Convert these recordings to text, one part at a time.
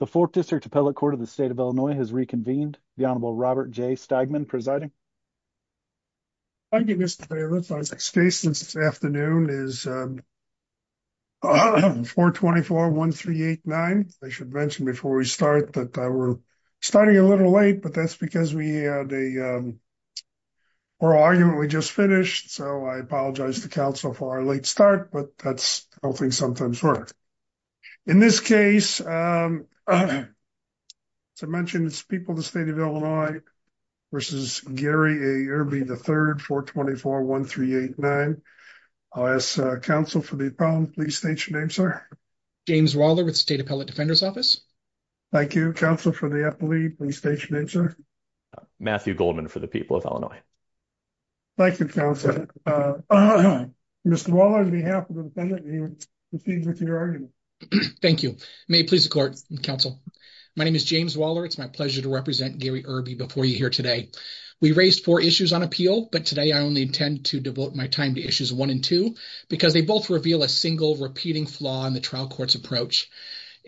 the fourth district appellate court of the state of illinois has reconvened the honorable robert j stagman presiding thank you mr davis our next case this afternoon is um 424 1389 i should mention before we start that we're starting a little late but that's because we had a oral argument we just finished so i apologize to council for our late start but that's things sometimes work in this case um as i mentioned it's people the state of illinois versus gary irby the third 424 1389 i'll ask council for the problem please state your name sir james waller with state appellate defender's office thank you council for the appellee please state your name sir matthew goldman for the people of illinois thank you council uh mr waller on behalf of the defendant he would proceed with your argument thank you may it please the court and council my name is james waller it's my pleasure to represent gary irby before you here today we raised four issues on appeal but today i only intend to devote my time to issues one and two because they both reveal a single repeating flaw in the trial court's approach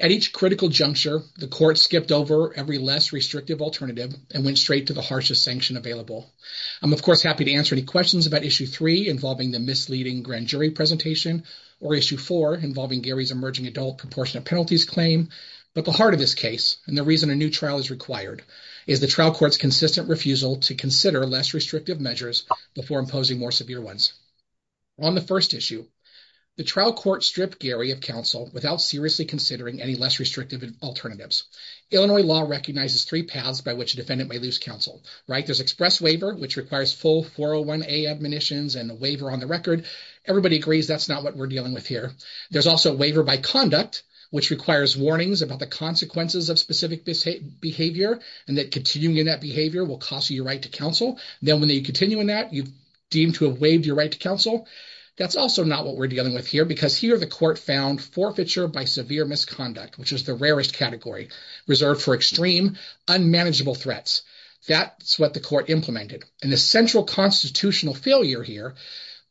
at each critical juncture the court skipped over every less restrictive alternative and went straight to the harshest sanction available i'm of course happy to answer any questions about issue three involving the misleading grand jury presentation or issue four involving gary's emerging adult proportionate penalties claim but the heart of this case and the reason a new trial is required is the trial court's consistent refusal to consider less restrictive measures before imposing more severe ones on the first issue the trial court stripped gary of counsel without seriously considering any less restrictive alternatives illinois law recognizes three paths by which a defendant may lose counsel right there's express which requires full 401a admonitions and the waiver on the record everybody agrees that's not what we're dealing with here there's also a waiver by conduct which requires warnings about the consequences of specific behavior and that continuing that behavior will cost you your right to counsel then when you continue in that you've deemed to have waived your right to counsel that's also not what we're dealing with here because here the court found forfeiture by severe misconduct which is the rarest category reserved for extreme unmanageable threats that's what the court implemented and the central constitutional failure here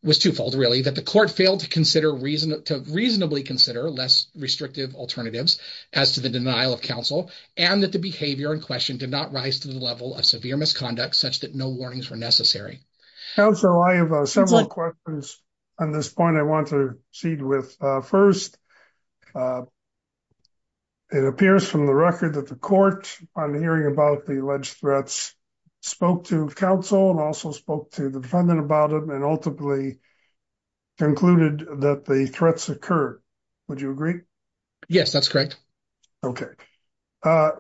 was twofold really that the court failed to consider reason to reasonably consider less restrictive alternatives as to the denial of counsel and that the behavior in question did not rise to the level of severe misconduct such that no warnings were necessary council i have several questions on this point i want to proceed with uh first uh it appears from the record that the court on hearing about the alleged threats spoke to counsel and also spoke to the defendant about him and ultimately concluded that the threats occur would you agree yes that's correct okay uh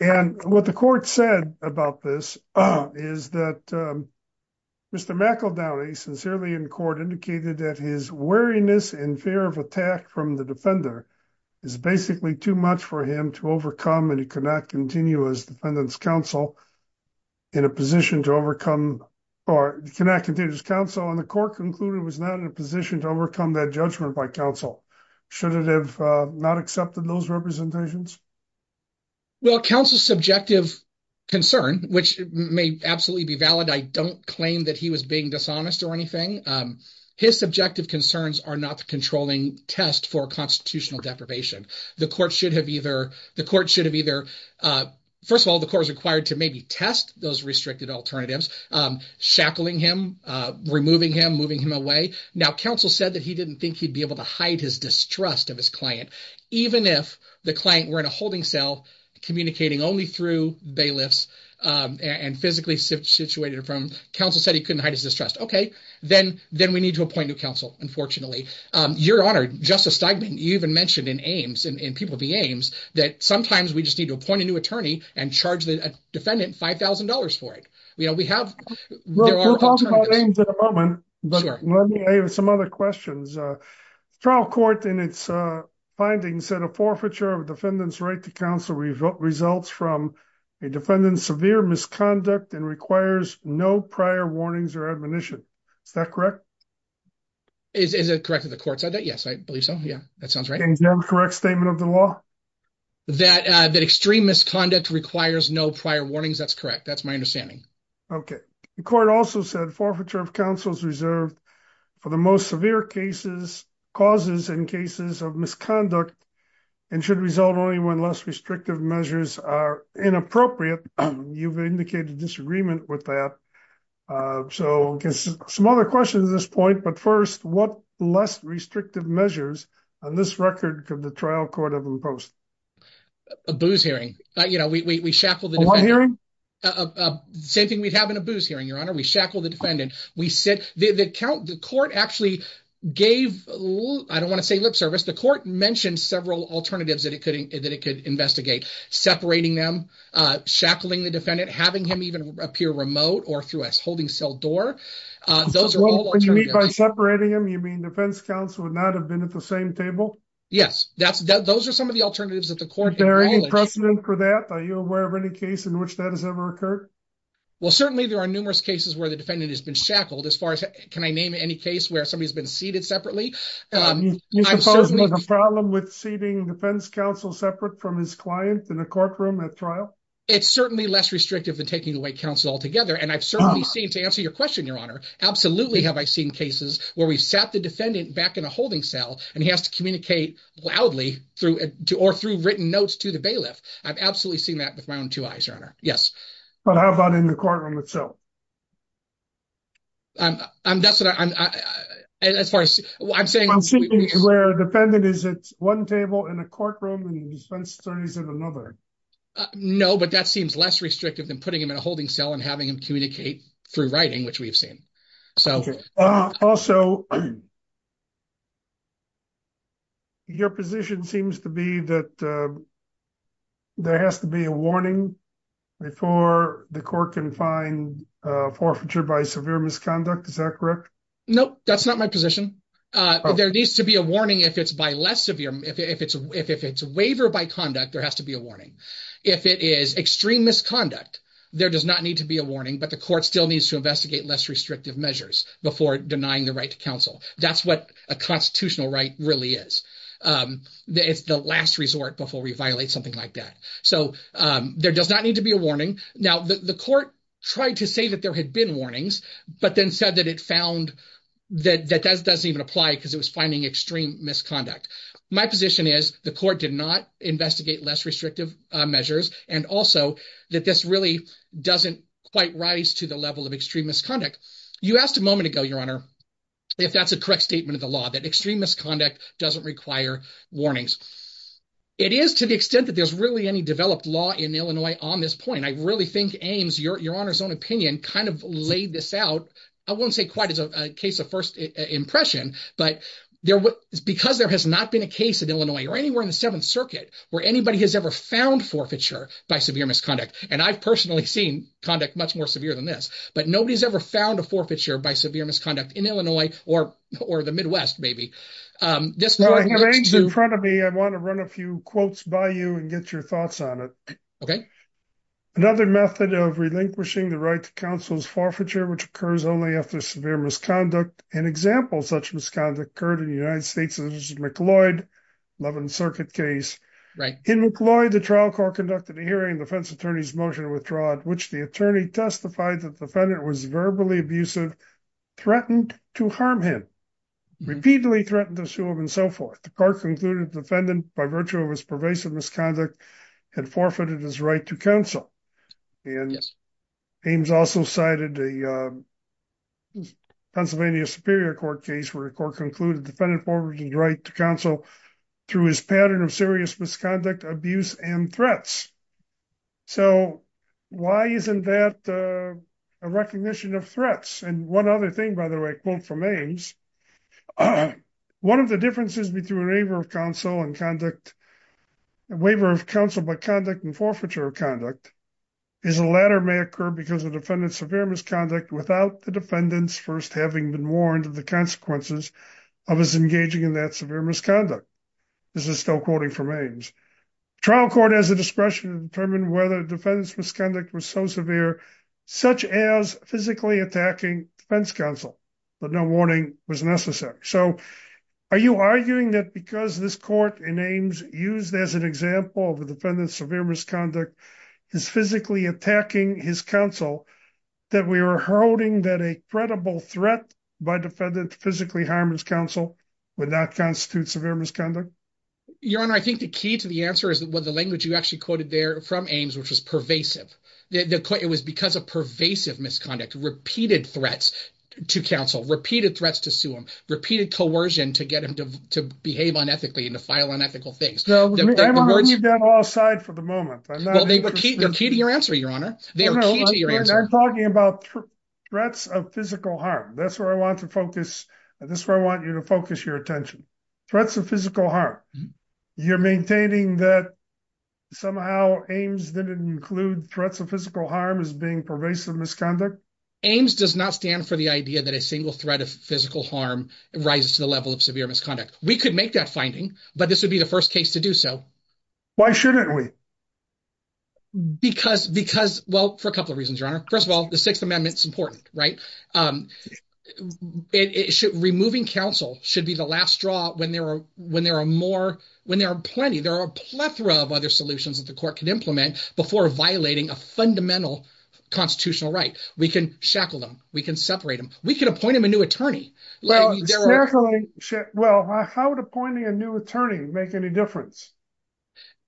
and what the court said about this is that um mr mackle downy sincerely in court indicated that his wariness in fear of attack from the defender is basically too much for him to overcome and he could not continue as defendant's counsel in a position to overcome or you cannot continue to counsel and the court concluded was not in a position to overcome that judgment by counsel should it have not accepted those representations well counsel's subjective concern which may absolutely be valid i don't claim that he was being dishonest or anything um his subjective concerns are not the controlling test for constitutional deprivation the court should have either the court should have either uh first of all the court is required to maybe test those restricted alternatives um shackling him uh removing him moving him away now counsel said that he didn't think he'd be able to hide his distrust of his client even if the client were in a holding cell communicating only through bailiffs um and physically situated from counsel said he couldn't hide his distrust okay then then we need to appoint new counsel unfortunately um your honor justice steigman you even mentioned in aims and people be aims that sometimes we just need to appoint a new attorney and charge the defendant five thousand dollars for it you know we have in a moment but let me have some other questions uh trial court in its uh findings said a forfeiture of defendant's right to counsel results from a defendant's severe misconduct and requires no prior warnings or admonition is that correct is is it correct that the court said that yes i believe so yeah that sounds right correct statement of the law that uh that extreme misconduct requires no prior warnings that's correct that's my understanding okay the court also said forfeiture of counsels reserved for the most severe cases causes and cases of misconduct and should result only when less restrictive measures are inappropriate you've indicated disagreement with that uh so some other questions at this point but first what less restrictive measures on this record could the trial court have imposed a booze hearing you know we we shackled the hearing uh same thing we'd have in a booze hearing your honor we shackle the defendant we said the the count the court actually gave i don't want to say lip service the court mentioned several alternatives that it could that it could investigate separating them uh shackling the defendant having him even appear remote or through a holding cell door uh those are all when you meet by separating them you mean defense counsel would not have been at the same table yes that's those are some of the alternatives that the court precedent for that are you aware of any case in which that has ever occurred well certainly there are numerous cases where the defendant has been shackled as far as can i name any case where somebody's been seated separately problem with seating defense counsel separate from his client in a courtroom at trial it's certainly less restrictive than taking away counsel altogether and i've certainly seen to answer your question your honor absolutely have i seen cases where we've sat the defendant back in a holding cell and he has to communicate loudly through or through written notes to the bailiff i've absolutely seen that with my own two eyes your honor yes but how about in the courtroom itself i'm i'm that's what i'm as far as i'm saying i'm sitting where a defendant is at one table in a courtroom and he spends 30s in another no but that seems less restrictive than putting him in a holding cell and having him communicate through writing which we've seen so also your position seems to be that there has to be a warning before the court can find forfeiture by severe misconduct is that correct nope that's not my position uh there needs to be a warning if it's by less severe if it's if it's a waiver by conduct there has to be a warning if it is extreme misconduct there does not need to be a warning but the court still needs to investigate less restrictive measures before denying the right to counsel that's what a constitutional right really is um it's the last resort before we violate something like that so um there does not need to be a warning now the court tried to say that there had been warnings but then said that it found that that doesn't even apply because it was finding extreme misconduct my position is the court did not investigate less restrictive uh measures and also that this really doesn't quite rise to the level of extreme misconduct you asked a moment ago your honor if that's a correct statement of the law that extreme misconduct doesn't require warnings it is to the extent that there's really any developed law in illinois on this point i really think aims your honor's own opinion kind of laid this out i won't say quite as a case of first impression but there was because there has not been a case in illinois or anywhere in the seventh circuit where anybody has ever found forfeiture by severe misconduct and i've personally seen conduct much more severe than this but nobody's ever found a forfeiture by severe misconduct in illinois or or the midwest maybe um this is in front of me i want to run a quotes by you and get your thoughts on it okay another method of relinquishing the right to counsel's forfeiture which occurs only after severe misconduct an example such misconduct occurred in the united states as mccloyd 11th circuit case right in mccloy the trial court conducted a hearing defense attorneys motion to withdraw at which the attorney testified that the defendant was verbally abusive threatened to harm him repeatedly threatened to sue him and so forth the court concluded defendant by virtue of his pervasive misconduct had forfeited his right to counsel and aims also cited a pennsylvania superior court case where the court concluded defendant forging the right to counsel through his pattern of serious misconduct abuse and threats so why isn't that a recognition of threats and one other thing by the way quote from aims uh one of the differences between waiver of counsel and conduct waiver of counsel by conduct and forfeiture of conduct is the latter may occur because the defendant's severe misconduct without the defendant's first having been warned of the consequences of his engaging in that severe misconduct this is still quoting from aims trial court has the discretion to determine whether was so severe such as physically attacking defense counsel but no warning was necessary so are you arguing that because this court in aims used as an example of the defendant's severe misconduct is physically attacking his counsel that we are holding that a credible threat by defendant physically harm his counsel would not constitute severe misconduct your honor the key to the answer is that what the language you actually quoted there from aims which was pervasive the court it was because of pervasive misconduct repeated threats to counsel repeated threats to sue him repeated coercion to get him to behave unethically and to file unethical things all side for the moment they're key to your answer your honor they are talking about threats of physical harm that's where i want to focus and that's where i want you to focus your attention threats of physical harm you're maintaining that somehow aims didn't include threats of physical harm as being pervasive misconduct aims does not stand for the idea that a single threat of physical harm rises to the level of severe misconduct we could make that finding but this would be the first case to do so why shouldn't we because because well for a couple of reasons your honor first of all the sixth amendment it's important right um it should removing counsel should be the last straw when there are when there are more when there are plenty there are a plethora of other solutions that the court can implement before violating a fundamental constitutional right we can shackle them we can separate them we can appoint him a new attorney well well how would appointing a new attorney make any difference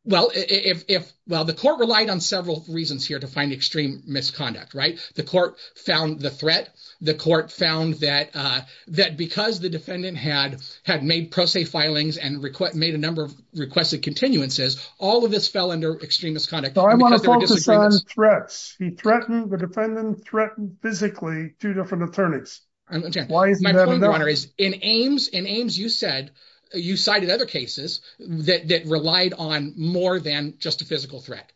well if if well the court relied on several reasons here to find extreme misconduct right the court found the threat the court found that uh that because the defendant had had made pro se filings and request made a number of requested continuances all of this fell under extreme misconduct so i want to focus on threats he threatened the defendant threatened physically two different attorneys and again why is my point of honor is in aims in aims you said you cited other cases that that relied on more than just a physical threat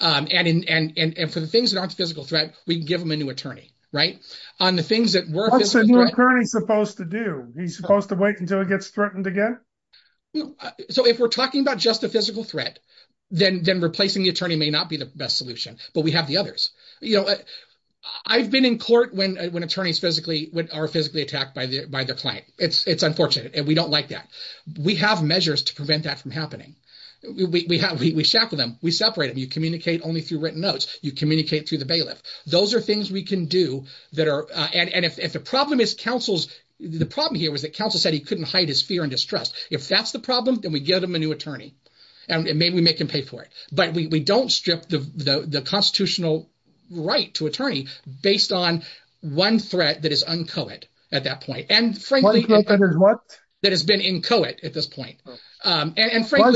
um and in and and for the things that aren't physical threat we can give them a new attorney right on the things that we're currently supposed to do he's supposed to wait until he gets threatened again so if we're talking about just a physical threat then then replacing the attorney may not be the best solution but we have the others you know i've been in court when when attorneys physically when are physically attacked by the by their client it's it's unfortunate and we don't like that we have measures to prevent that from happening we have we shackle them we separate them you communicate only through written notes you communicate through the bailiff those are things we can do that are uh and and if if the problem is counsel's the problem here was that counsel said he couldn't hide his fear and distrust if that's the problem then we give him a new attorney and maybe we make him pay for it but we we don't strip the the the constitutional right to attorney based on one threat that is uncoated at that point and frankly what that has at this point um and frankly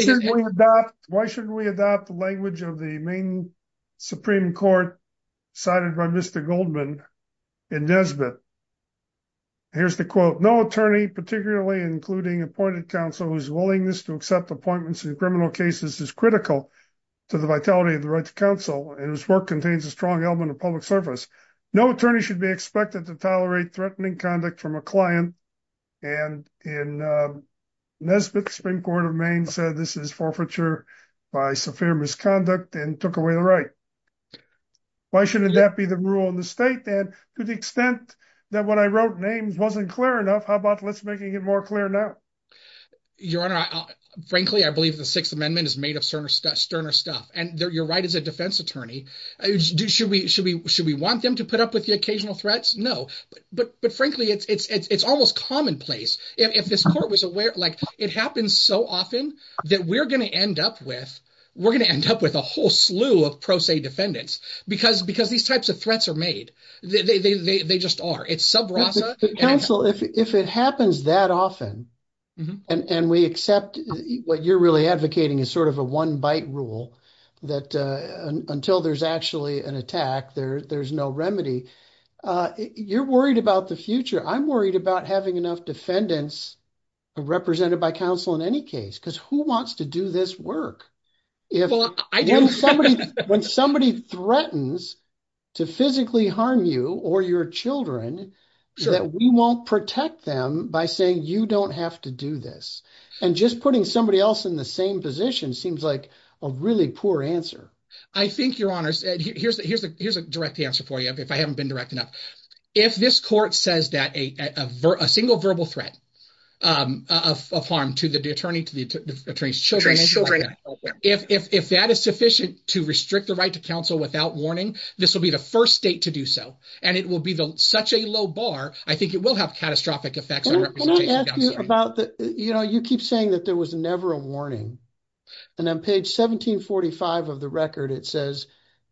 why shouldn't we adopt the language of the main supreme court cited by mr goldman in nesbitt here's the quote no attorney particularly including appointed counsel whose willingness to accept appointments in criminal cases is critical to the vitality of the right to counsel and his work contains a strong element of public service no attorney should be expected to tolerate threatening conduct from a client and in nesbitt supreme court of maine said this is forfeiture by severe misconduct and took away the right why shouldn't that be the rule in the state then to the extent that what i wrote names wasn't clear enough how about let's make it more clear now your honor frankly i believe the sixth amendment is made of sterner stuff sterner stuff and you're right as a defense attorney should we should we want them to put up with the occasional threats no but but but frankly it's it's it's almost commonplace if this court was aware like it happens so often that we're going to end up with we're going to end up with a whole slew of pro se defendants because because these types of threats are made they they they just are it's sub rosa counsel if if it happens that often and and we accept what you're really advocating is sort of a one bite rule that uh until there's actually an attack there there's no remedy uh you're worried about the future i'm worried about having enough defendants represented by counsel in any case because who wants to do this work if i do somebody when somebody threatens to physically harm you or your children that we won't protect them by saying you don't have to do this and just putting somebody else in the same position seems like a really poor answer i think your honors here's the here's the here's a direct answer for you if i haven't been direct enough if this court says that a a single verbal threat um of harm to the attorney to the attorneys children if if that is sufficient to restrict the right to counsel without warning this will be the first state to do so and it will be the such a low bar i think it will have catastrophic effects about the you know you keep saying that there was never a warning and on page 1745 of the record it says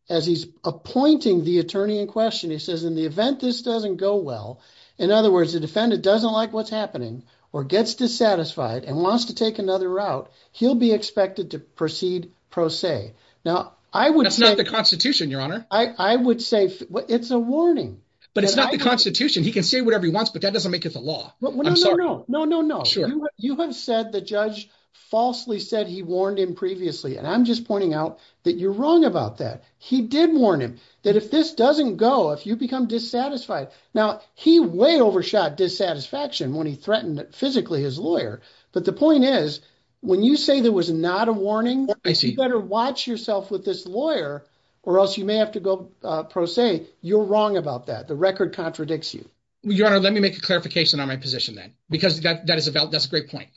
as he's appointing the attorney in question he says in the event this doesn't go well in other words the defendant doesn't like what's happening or gets dissatisfied and wants to take another route he'll be expected to proceed pro se now i would that's not the constitution your honor i i would say it's a warning but it's not the constitution he can say whatever he wants but that doesn't make it the i'm sorry no no no sure you have said the judge falsely said he warned him previously and i'm just pointing out that you're wrong about that he did warn him that if this doesn't go if you become dissatisfied now he way overshot dissatisfaction when he threatened physically his lawyer but the point is when you say there was not a warning i see you better watch yourself with this lawyer or else you may have to go uh pro se you're wrong about that the record contradicts your honor let me make a clarification on my position then because that that is about that's a great point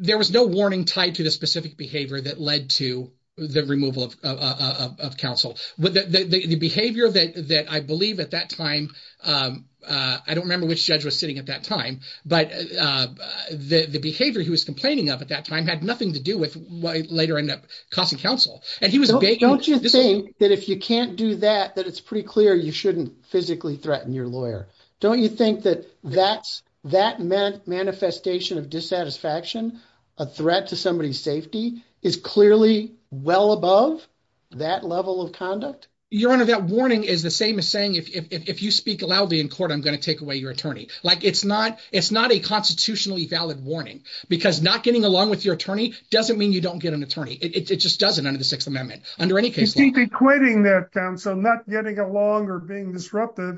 there was no warning tied to the specific behavior that led to the removal of of counsel with the the behavior that that i believe at that time um uh i don't remember which judge was sitting at that time but uh the the behavior he was complaining of at that time had nothing to do with what later ended up costing counsel and he was don't you think that if you can't do that it's pretty clear you shouldn't physically threaten your lawyer don't you think that that's that meant manifestation of dissatisfaction a threat to somebody's safety is clearly well above that level of conduct your honor that warning is the same as saying if if you speak loudly in court i'm going to take away your attorney like it's not it's not a constitutionally valid warning because not getting along with your attorney doesn't mean you don't get an attorney it just doesn't under the sixth amendment under any case you keep equating that counsel not getting along or being disrupted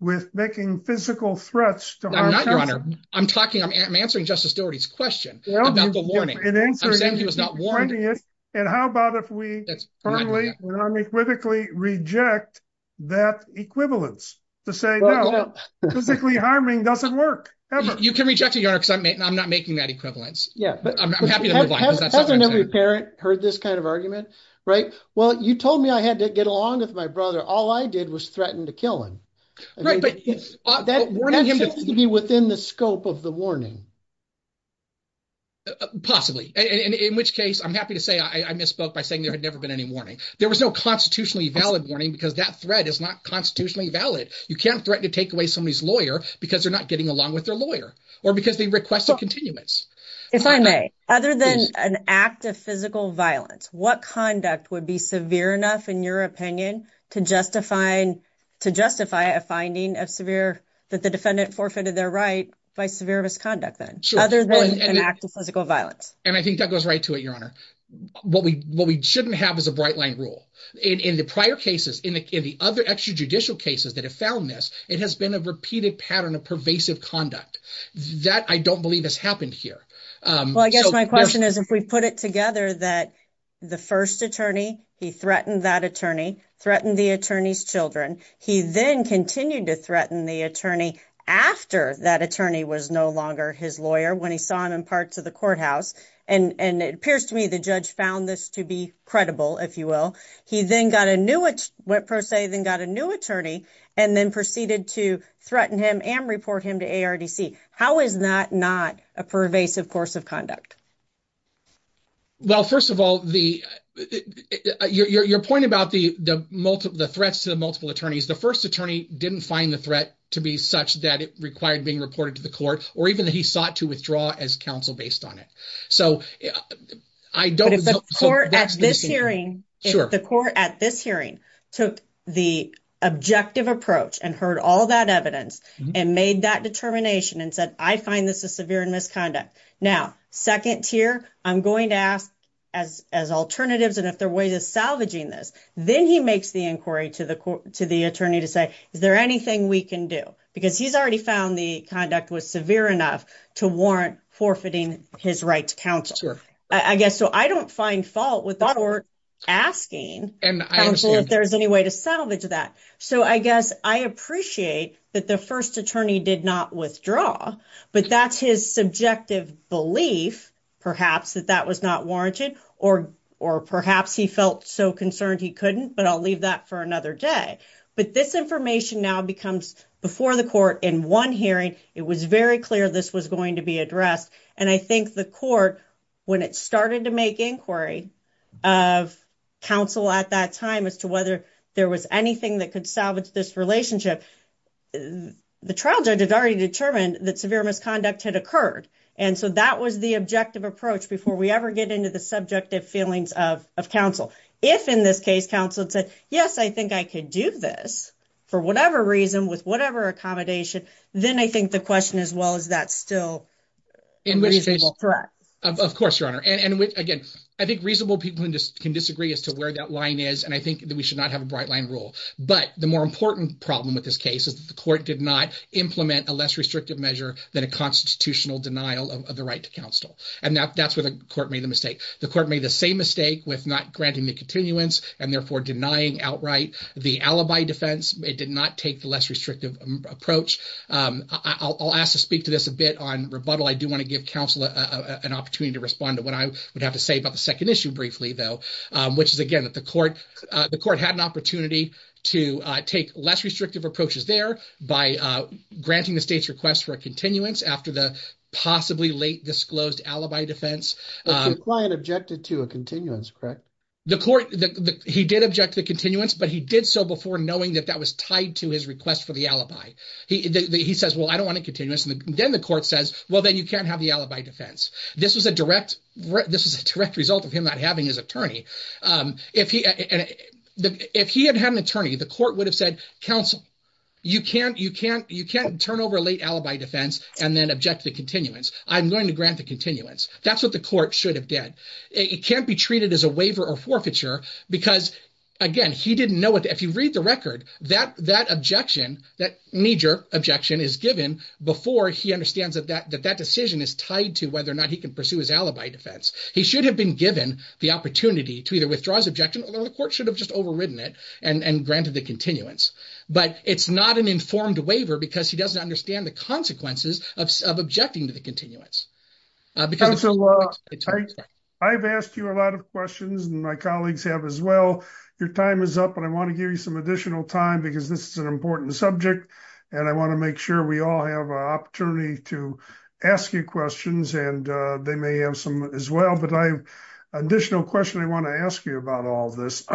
with making physical threats to i'm not your honor i'm talking i'm answering justice doherty's question about the warning and answering he was not warning it and how about if we firmly non-equivocally reject that equivalence to say no physically harming doesn't work ever you can reject it your honor because i'm not making that equivalence yeah i'm happy to move hasn't every parent heard this kind of argument right well you told me i had to get along with my brother all i did was threaten to kill him right but that seems to be within the scope of the warning possibly and in which case i'm happy to say i misspoke by saying there had never been any warning there was no constitutionally valid warning because that threat is not constitutionally valid you can't threaten to take away somebody's lawyer because they're not getting along with their lawyer or because they requested continuance if i may other than an act of physical violence what conduct would be severe enough in your opinion to justify to justify a finding of severe that the defendant forfeited their right by severe misconduct then other than an act of physical violence and i think that goes right to it your honor what we what we shouldn't have is a bright line rule in in the prior cases in the other extrajudicial cases that have found this it has been a repeated pattern of pervasive conduct that i don't believe has happened here um well i guess my question is if we put it together that the first attorney he threatened that attorney threatened the attorney's children he then continued to threaten the attorney after that attorney was no longer his lawyer when he saw him in parts of the courthouse and and it appears to me the judge found this to be credible if you will he then got a new went per se then got a new attorney and then proceeded to threaten him and report him to ardc how is that not a pervasive course of conduct well first of all the your point about the the multiple the threats to the multiple attorneys the first attorney didn't find the threat to be such that it required being reported to the court or even that he sought to withdraw as counsel based so i don't think the court at this hearing sure the court at this hearing took the objective approach and heard all that evidence and made that determination and said i find this a severe misconduct now second tier i'm going to ask as as alternatives and if there are ways of salvaging this then he makes the inquiry to the court to the attorney to say is there anything we can do because he's already found the conduct was severe enough to warrant forfeiting his right to counsel i guess so i don't find fault with the court asking and i don't know if there's any way to salvage that so i guess i appreciate that the first attorney did not withdraw but that's his subjective belief perhaps that that was not warranted or or perhaps he felt so concerned he couldn't but i'll leave that for another day but this information now becomes before the court in one hearing it was very clear this was going to be addressed and i think the court when it started to make inquiry of counsel at that time as to whether there was anything that could salvage this relationship the trial judge had already determined that severe misconduct had occurred and so that was the objective approach before we ever get into the subjective feelings of of counsel if in this case counsel said yes i think i could do this for whatever reason with whatever accommodation then i think the question as well is that still in which case correct of course your honor and which again i think reasonable people who just can disagree as to where that line is and i think that we should not have a bright line rule but the more important problem with this case is that the court did not implement a less restrictive measure than a constitutional denial of the right to counsel and that that's where the court made the mistake the court made the same mistake with not granting the continuance and therefore denying outright the alibi defense it did not take the less restrictive approach um i'll ask to speak to this a bit on rebuttal i do want to give counsel a an opportunity to respond to what i would have to say about the second issue briefly though um which is again that the court uh the court had an opportunity to uh take less restrictive approaches there by uh granting the state's request for a continuance after the possibly late disclosed alibi defense client objected to a continuance correct the court that he did object to continuance but he did so before knowing that that was tied to his request for the alibi he he says well i don't want to continue this and then the court says well then you can't have the alibi defense this was a direct this was a direct result of him not having his attorney um if he and if he had had an attorney the court would have said counsel you can't you can't you can't turn over a late alibi defense and then object to the continuance i'm going to grant the continuance that's what the court should have did it can't be treated as a waiver or forfeiture because again he didn't know what if you read the record that that objection that major objection is given before he understands that that that decision is tied to whether or not he can pursue his alibi defense he should have been given the opportunity to either withdraw his objection or the court should have just overridden it and and granted the continuance but it's not an informed waiver because he doesn't understand the consequences of objecting to the continuance because i've asked you a lot of questions and my colleagues have as well your time is up and i want to give you some additional time because this is an important subject and i want to make sure we all have an opportunity to ask you questions and they may have some as well but i have an additional question i want to ask you about all this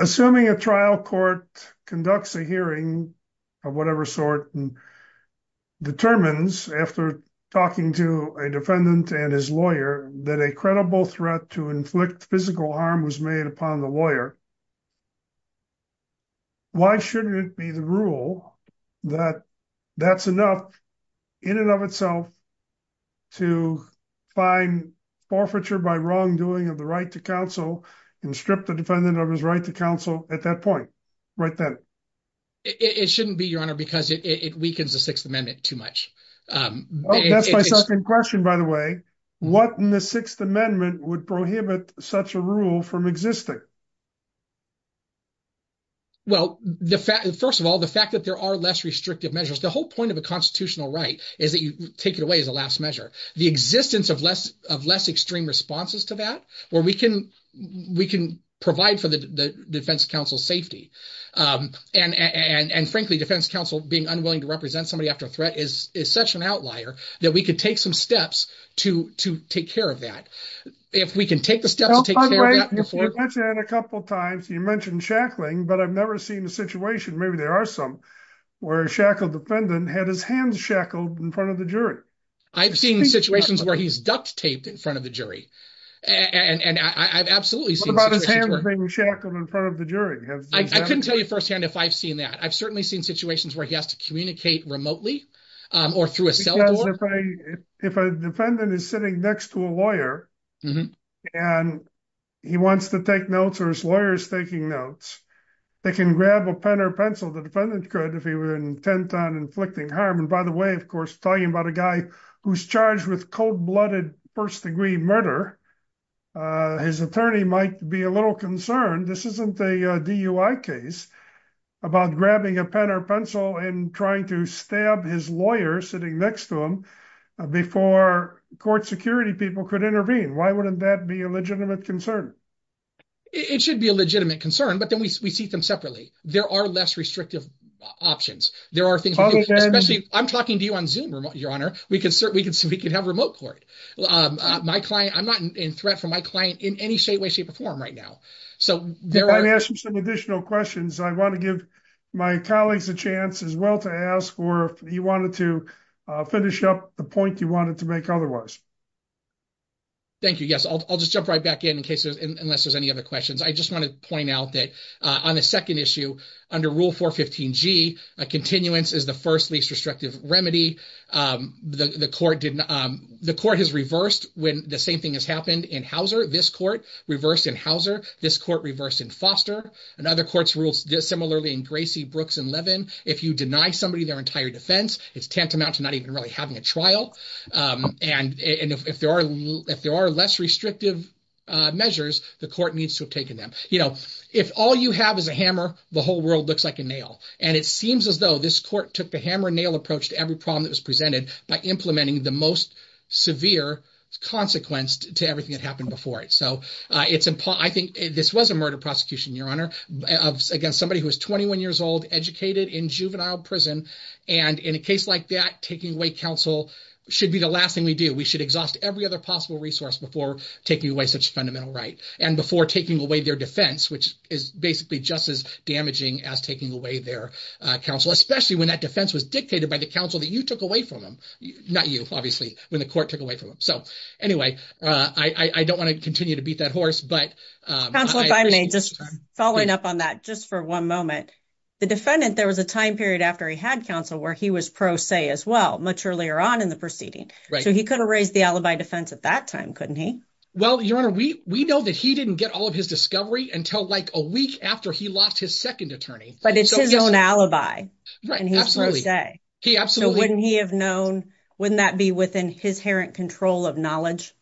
assuming a trial court conducts a hearing of whatever sort and determines after talking to a defendant and his lawyer that a credible threat to inflict physical harm was made upon the lawyer why shouldn't it be the rule that that's enough in and of itself to find forfeiture by wrongdoing of the right to counsel and strip the defendant of his right to counsel at that point right then it shouldn't be your honor because it weakens the sixth amendment too much um that's my second question by the way what in the sixth amendment would prohibit such a rule from existing well the fact first of all the fact that there are less restrictive measures the whole point of a constitutional right is that you take it away as a last measure the existence of less of less extreme responses to that where we can we can provide for the defense counsel safety um and and and frankly defense counsel being unwilling to represent somebody after a threat is is such an outlier that we could take some steps to to take care of that if we can take the steps to take care of that before you mentioned a couple times you mentioned shackling but i've never seen a situation maybe there are some where a shackled defendant had his hands shackled in front of the jury i've seen situations where he's duct taped in front of the jury and and i've absolutely seen shackled in front of the jury i couldn't tell you firsthand if i've seen that i've certainly seen situations where he has to communicate remotely um or through a cell if a defendant is sitting next to a lawyer and he wants to take notes or his lawyer is taking notes they can grab a pen or pencil the defendant could if he were intent on inflicting harm and by the way of course talking about a guy who's charged with cold-blooded first-degree murder uh his attorney might be a little concerned this isn't a dui case about grabbing a pen or pencil and trying to stab his lawyer sitting next to him before court security people could intervene why wouldn't that be a legitimate concern it should be a legitimate concern but then we see them separately there are less restrictive options there are things especially i'm talking to you on zoom your honor we can certainly we can have remote court um my client i'm not in threat from my client in any state way shape or form right now so they're asking some additional questions i want to give my colleagues a chance as well to ask or if you wanted to uh finish up the point you wanted to make otherwise thank you yes i'll just jump right back in in cases unless there's any other questions i just want to point out that on the second issue under rule 415 g a continuance is the first least restrictive remedy um the the court didn't um the court has reversed when the same thing has happened in hauser this court reversed in hauser this court reversed in foster and other courts rules similarly in gracie brooks and levin if you deny somebody their entire defense it's tantamount to not even really having a trial um and and if there are if there are less restrictive uh measures the court needs to have taken them you know if all you have is a hammer the whole world looks like a nail and it seems as though this court took the every problem that was presented by implementing the most severe consequence to everything that happened before it so uh it's important i think this was a murder prosecution your honor of against somebody who was 21 years old educated in juvenile prison and in a case like that taking away counsel should be the last thing we do we should exhaust every other possible resource before taking away such a fundamental right and before taking away their defense which is basically just as damaging as taking away their uh counsel especially when that defense was dictated by the counsel that you took away from them not you obviously when the court took away from them so anyway uh i i don't want to continue to beat that horse but um counsel if i may just following up on that just for one moment the defendant there was a time period after he had counsel where he was pro se as well much earlier on in the proceeding so he could have raised the alibi defense at that time couldn't he well your honor we we know that he didn't get all of his discovery until like a week after he lost his second attorney but it's his own alibi right and he has no say he absolutely wouldn't he have known wouldn't that be within his errant control of knowledge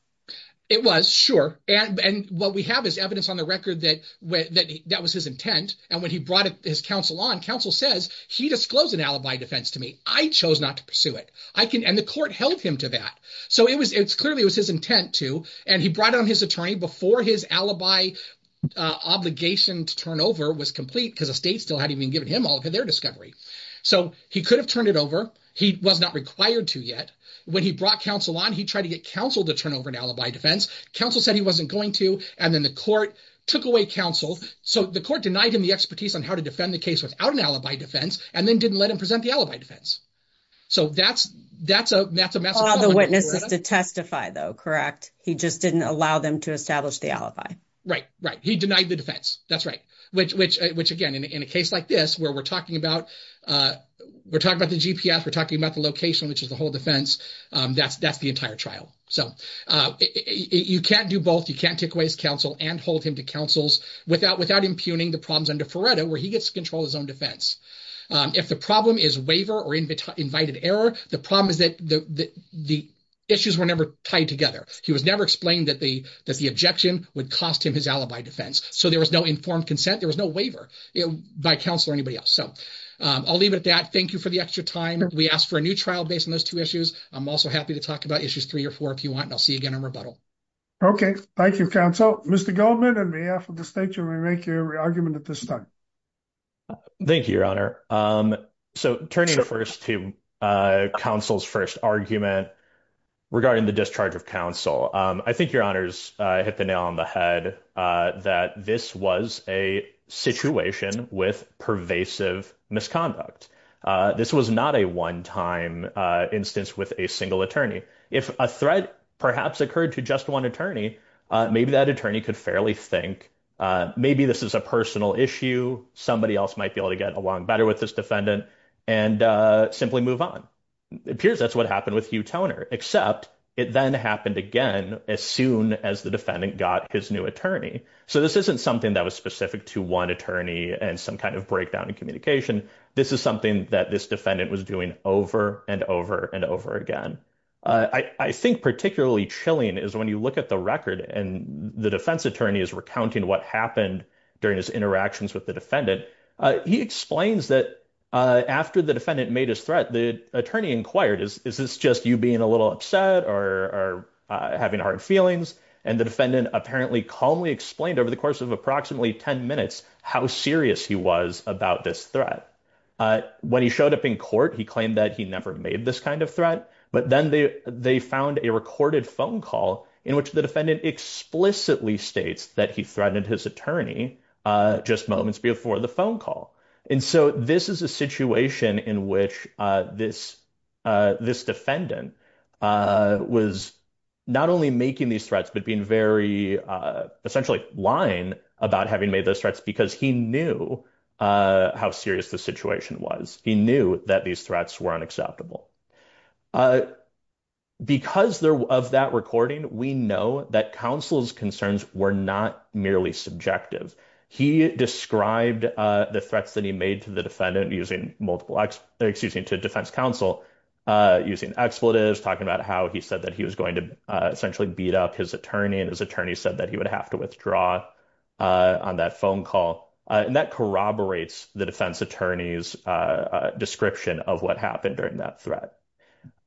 it was sure and and what we have is evidence on the record that when that was his intent and when he brought his counsel on counsel says he disclosed an alibi defense to me i chose not to pursue it i can and the court held him to that so it was it's clearly it was his intent to and he brought on his attorney before his alibi uh obligation to turn over was complete because the state still hadn't been given him all of their discovery so he could have turned it over he was not required to yet when he brought counsel on he tried to get counsel to turn over an alibi defense counsel said he wasn't going to and then the court took away counsel so the court denied him the expertise on how to defend the case without an alibi defense and then didn't let him present the alibi defense so that's that's a that's a massive witnesses to testify though correct he just didn't allow them to establish the alibi right right he denied the defense that's right which which which again in a case like this where we're talking about uh we're talking about the gps we're talking about the location which is the whole defense um that's that's the entire trial so uh you can't do both you can't take away his counsel and hold him to counsels without without impugning the problems under freddo where he gets to control his own defense um if the problem is waiver or invited error the problem is that the the issues were never tied together he was never explained that the that the objection would cost him his alibi defense so there was no informed consent there was no waiver by counsel or anybody else so i'll leave it at that thank you for the extra time we asked for a new trial based on those two issues i'm also happy to talk about issues three or four if you want and i'll see you again in rebuttal okay thank you counsel mr goldman and we make your argument at this time thank you your honor um so turning first to uh counsel's first argument regarding the discharge of counsel um i think your honors uh hit the nail on the head uh that this was a situation with pervasive misconduct uh this was not a one-time uh instance with a single attorney if a threat perhaps occurred to just one attorney uh maybe that attorney could fairly think uh maybe this is a personal issue somebody else might be able to get along better with this defendant and uh simply move on appears that's what happened with hugh toner except it then happened again as soon as the defendant got his new attorney so this isn't something that was specific to one attorney and some kind of breakdown in communication this is something that this defendant was doing over and over and over again uh i i think particularly chilling is when you look at the record and the defense attorney is recounting what happened during his interactions with the defendant uh he explains that uh after the defendant made his threat the attorney inquired is this just you being a little upset or having hard feelings and the defendant apparently calmly explained over the course of approximately 10 minutes how serious he was about this threat when he showed up in court he claimed that he never made this kind of threat but then they they found a recorded phone call in which the defendant explicitly states that he threatened his attorney uh just moments before the phone call and so this is a situation in which uh this uh this defendant uh was not only making these threats but being very uh essentially lying about having made those threats because he knew uh how serious the situation was he knew that these threats were unacceptable uh because there of that recording we know that counsel's concerns were not merely subjective he described uh the threats that he made to the defendant using multiple x excuse me to defense counsel uh using expletives talking about how he said that he was going to essentially beat up his attorney and his attorney said that have to withdraw uh on that phone call and that corroborates the defense attorney's uh description of what happened during that threat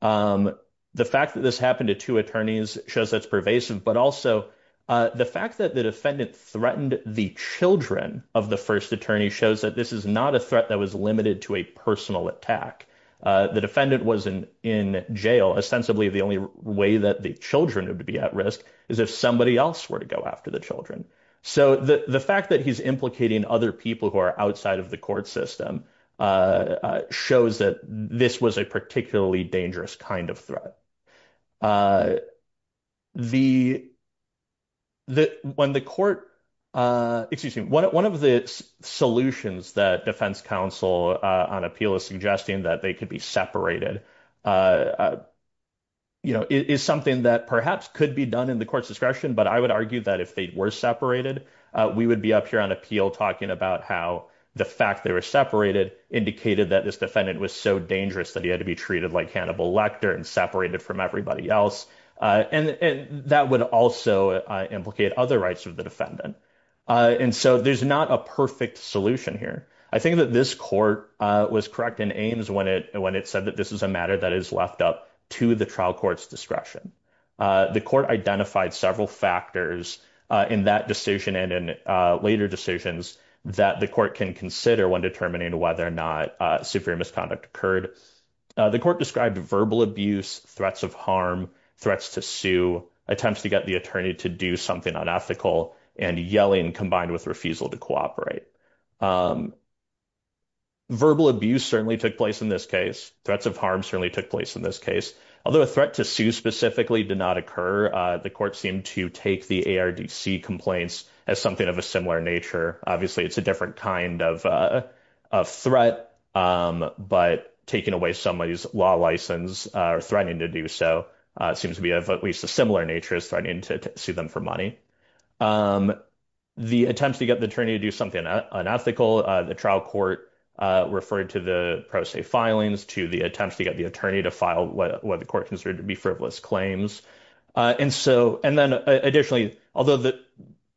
um the fact that this happened to two attorneys shows that's pervasive but also uh the fact that the defendant threatened the children of the first attorney shows that this is not a threat that was limited to a personal attack uh the defendant was in in jail ostensibly the only way that the children would be at risk is if somebody else were to go after the children so the the fact that he's implicating other people who are outside of the court system uh shows that this was a particularly dangerous kind of threat uh the the when the court uh excuse me one of the solutions that defense counsel uh on appeal is suggesting that they could be separated uh you know is something that perhaps could be done in discretion but i would argue that if they were separated uh we would be up here on appeal talking about how the fact they were separated indicated that this defendant was so dangerous that he had to be treated like Hannibal Lecter and separated from everybody else uh and and that would also implicate other rights of the defendant uh and so there's not a perfect solution here i think that this court uh was correct in aims when it when it said that this is a matter that is left up to the trial court's discretion uh the court identified several factors uh in that decision and in uh later decisions that the court can consider when determining whether or not uh superior misconduct occurred the court described verbal abuse threats of harm threats to sue attempts to get the attorney to do something unethical and yelling combined with refusal to cooperate um verbal abuse certainly took place in this case threats of harm certainly took place in this case although a threat to sue specifically did not occur uh the court seemed to take the ardc complaints as something of a similar nature obviously it's a different kind of uh of threat um but taking away somebody's law license or threatening to do so uh seems to be of at least a similar nature as threatening to sue them for money um the attempts to get the attorney to do something unethical uh the trial court uh referred to the pro se filings to the attempts to get the attorney to file what the court considered to be frivolous claims uh and so and then additionally although that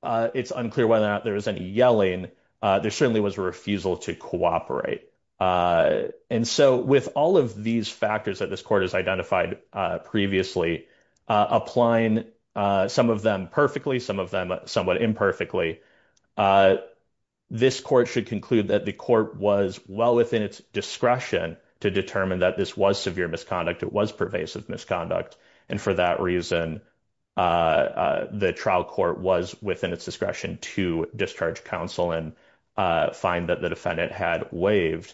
uh it's unclear whether or not there was any yelling uh there certainly was a refusal to cooperate uh and so with all of these factors that this court has identified uh previously applying uh some of them perfectly some of them somewhat imperfectly uh this court should that the court was well within its discretion to determine that this was severe misconduct it was pervasive misconduct and for that reason uh the trial court was within its discretion to discharge counsel and uh find that the defendant had waived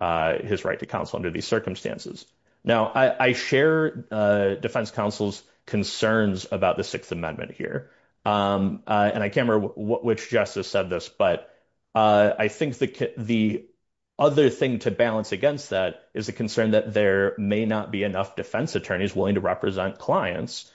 uh his right to counsel under these circumstances now i i share uh defense counsel's concerns about the sixth amendment here um uh and i can't remember which justice said this but uh i think the the other thing to balance against that is the concern that there may not be enough defense attorneys willing to represent clients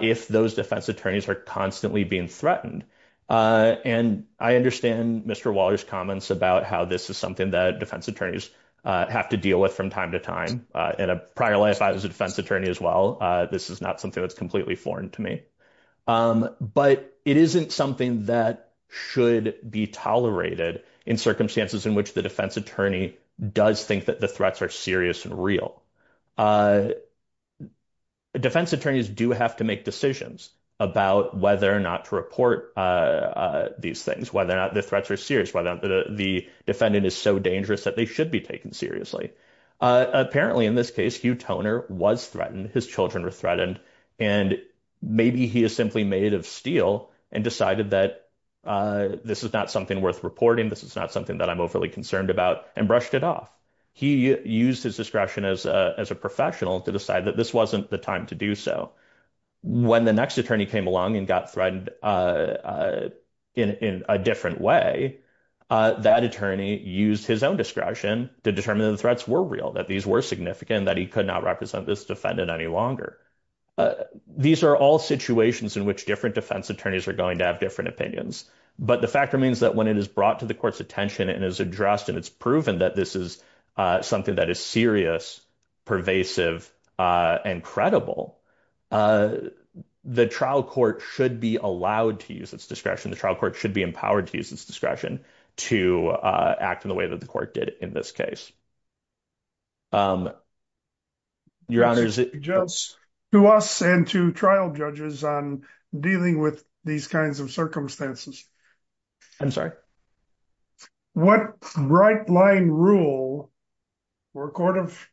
if those defense attorneys are constantly being threatened uh and i understand mr waller's comments about how this is something that defense attorneys uh have to deal with from time to time uh in a prior life i was a defense attorney as well uh this is not something that's completely foreign to me um but it isn't something that should be tolerated in circumstances in which the defense attorney does think that the threats are serious and real uh defense attorneys do have to make decisions about whether or not to report uh these things whether or not the threats are serious whether the defendant is so dangerous that they should be taken seriously uh apparently in this case hugh toner was threatened his children were threatened and maybe he is simply made of steel and decided that uh this is not something worth reporting this is not something that i'm overly concerned about and brushed it off he used his discretion as a professional to decide that this wasn't the time to do so when the next attorney came along and got threatened uh in in a different way uh that attorney used his own discretion to determine the threats were real these were significant that he could not represent this defendant any longer these are all situations in which different defense attorneys are going to have different opinions but the fact remains that when it is brought to the court's attention and is addressed and it's proven that this is uh something that is serious pervasive uh and credible uh the trial court should be allowed to use its discretion the trial court should be empowered to use its to uh act in the way that the court did in this case um your honors just to us and to trial judges on dealing with these kinds of circumstances i'm sorry what bright line rule for a court of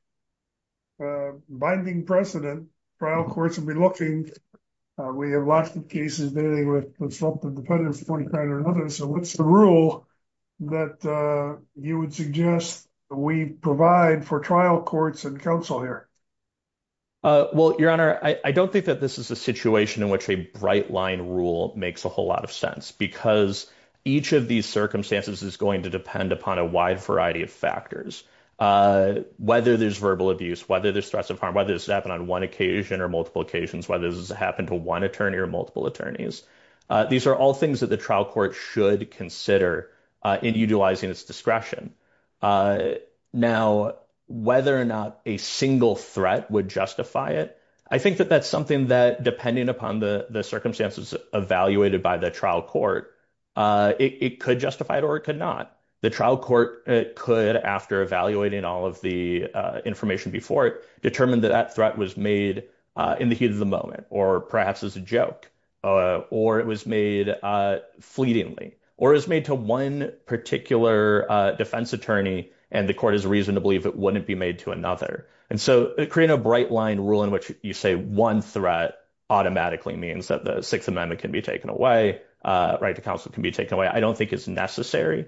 uh binding precedent trial courts will be looking uh we have lots of cases dealing with something dependent or another so what's the rule that uh you would suggest we provide for trial courts and counsel here uh well your honor i don't think that this is a situation in which a bright line rule makes a whole lot of sense because each of these circumstances is going to depend upon a wide variety of factors uh whether there's verbal abuse whether there's stress of harm whether this happened on one occasion or multiple occasions whether this has happened to one attorney or multiple attorneys uh these are all things that the trial court should consider uh in utilizing its discretion uh now whether or not a single threat would justify it i think that that's something that depending upon the the circumstances evaluated by the trial court uh it could justify it or it could not the trial court it could after evaluating all of the uh information before it determined that that threat was made uh in the moment or perhaps as a joke uh or it was made uh fleetingly or is made to one particular uh defense attorney and the court has reason to believe it wouldn't be made to another and so creating a bright line rule in which you say one threat automatically means that the sixth amendment can be taken away uh right to counsel can be taken away i don't think it's necessary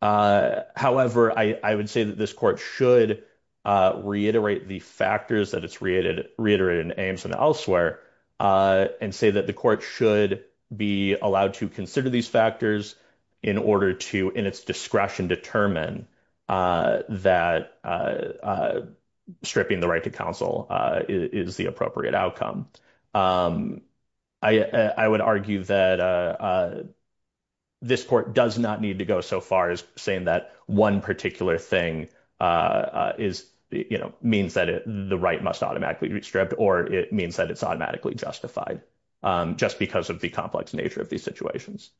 uh however i i would say that this court should uh reiterate the factors that it's reiterated in aims and elsewhere uh and say that the court should be allowed to consider these factors in order to in its discretion determine uh that uh stripping the right to counsel uh is the appropriate outcome um i i would argue that uh this court does not need to go so far as saying that one particular thing uh is you know means that it the right must automatically be stripped or it means that it's automatically justified um just because of the complex nature of these situations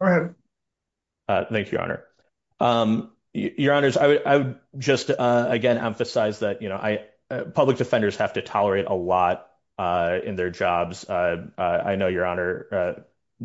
go ahead uh thank you your honor um your honors i would i would just uh again emphasize that you know i public defenders have to tolerate a lot uh in their jobs uh i know your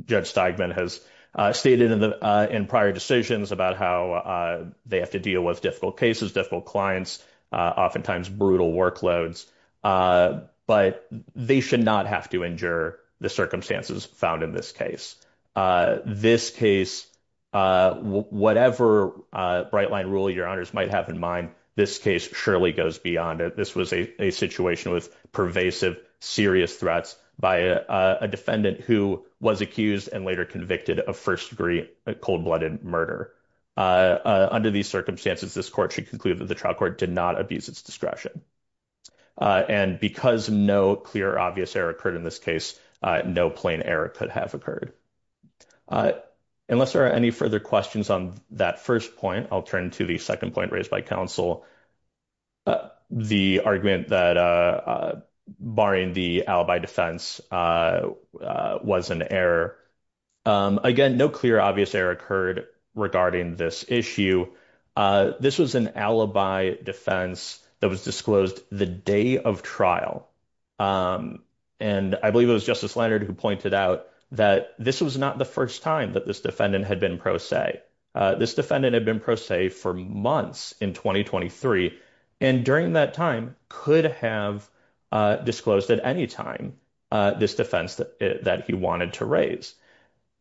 judge steigman has uh stated in the uh in prior decisions about how uh they have to deal with difficult cases difficult clients uh oftentimes brutal workloads uh but they should not have to endure the circumstances found in this case uh this case uh whatever uh bright line rule your honors might have in mind this case surely goes beyond it this was a situation with pervasive serious threats by a defendant who was accused and later convicted of first degree cold-blooded murder uh under these circumstances this court should conclude that the trial court did not abuse its discretion uh and because no clear obvious error occurred in this case uh no plain error could have occurred uh unless there are any further questions on that first point i'll turn to the second point raised by counsel the argument that uh barring the alibi defense uh uh was an error um again no clear obvious error occurred regarding this issue uh this was an alibi defense that was disclosed the day of trial um and i believe it was justice leonard who pointed out that this was not the first time that this defendant had been pro se uh this defendant had been pro se for months in 2023 and during that time could have uh disclosed at any time this defense that he wanted to raise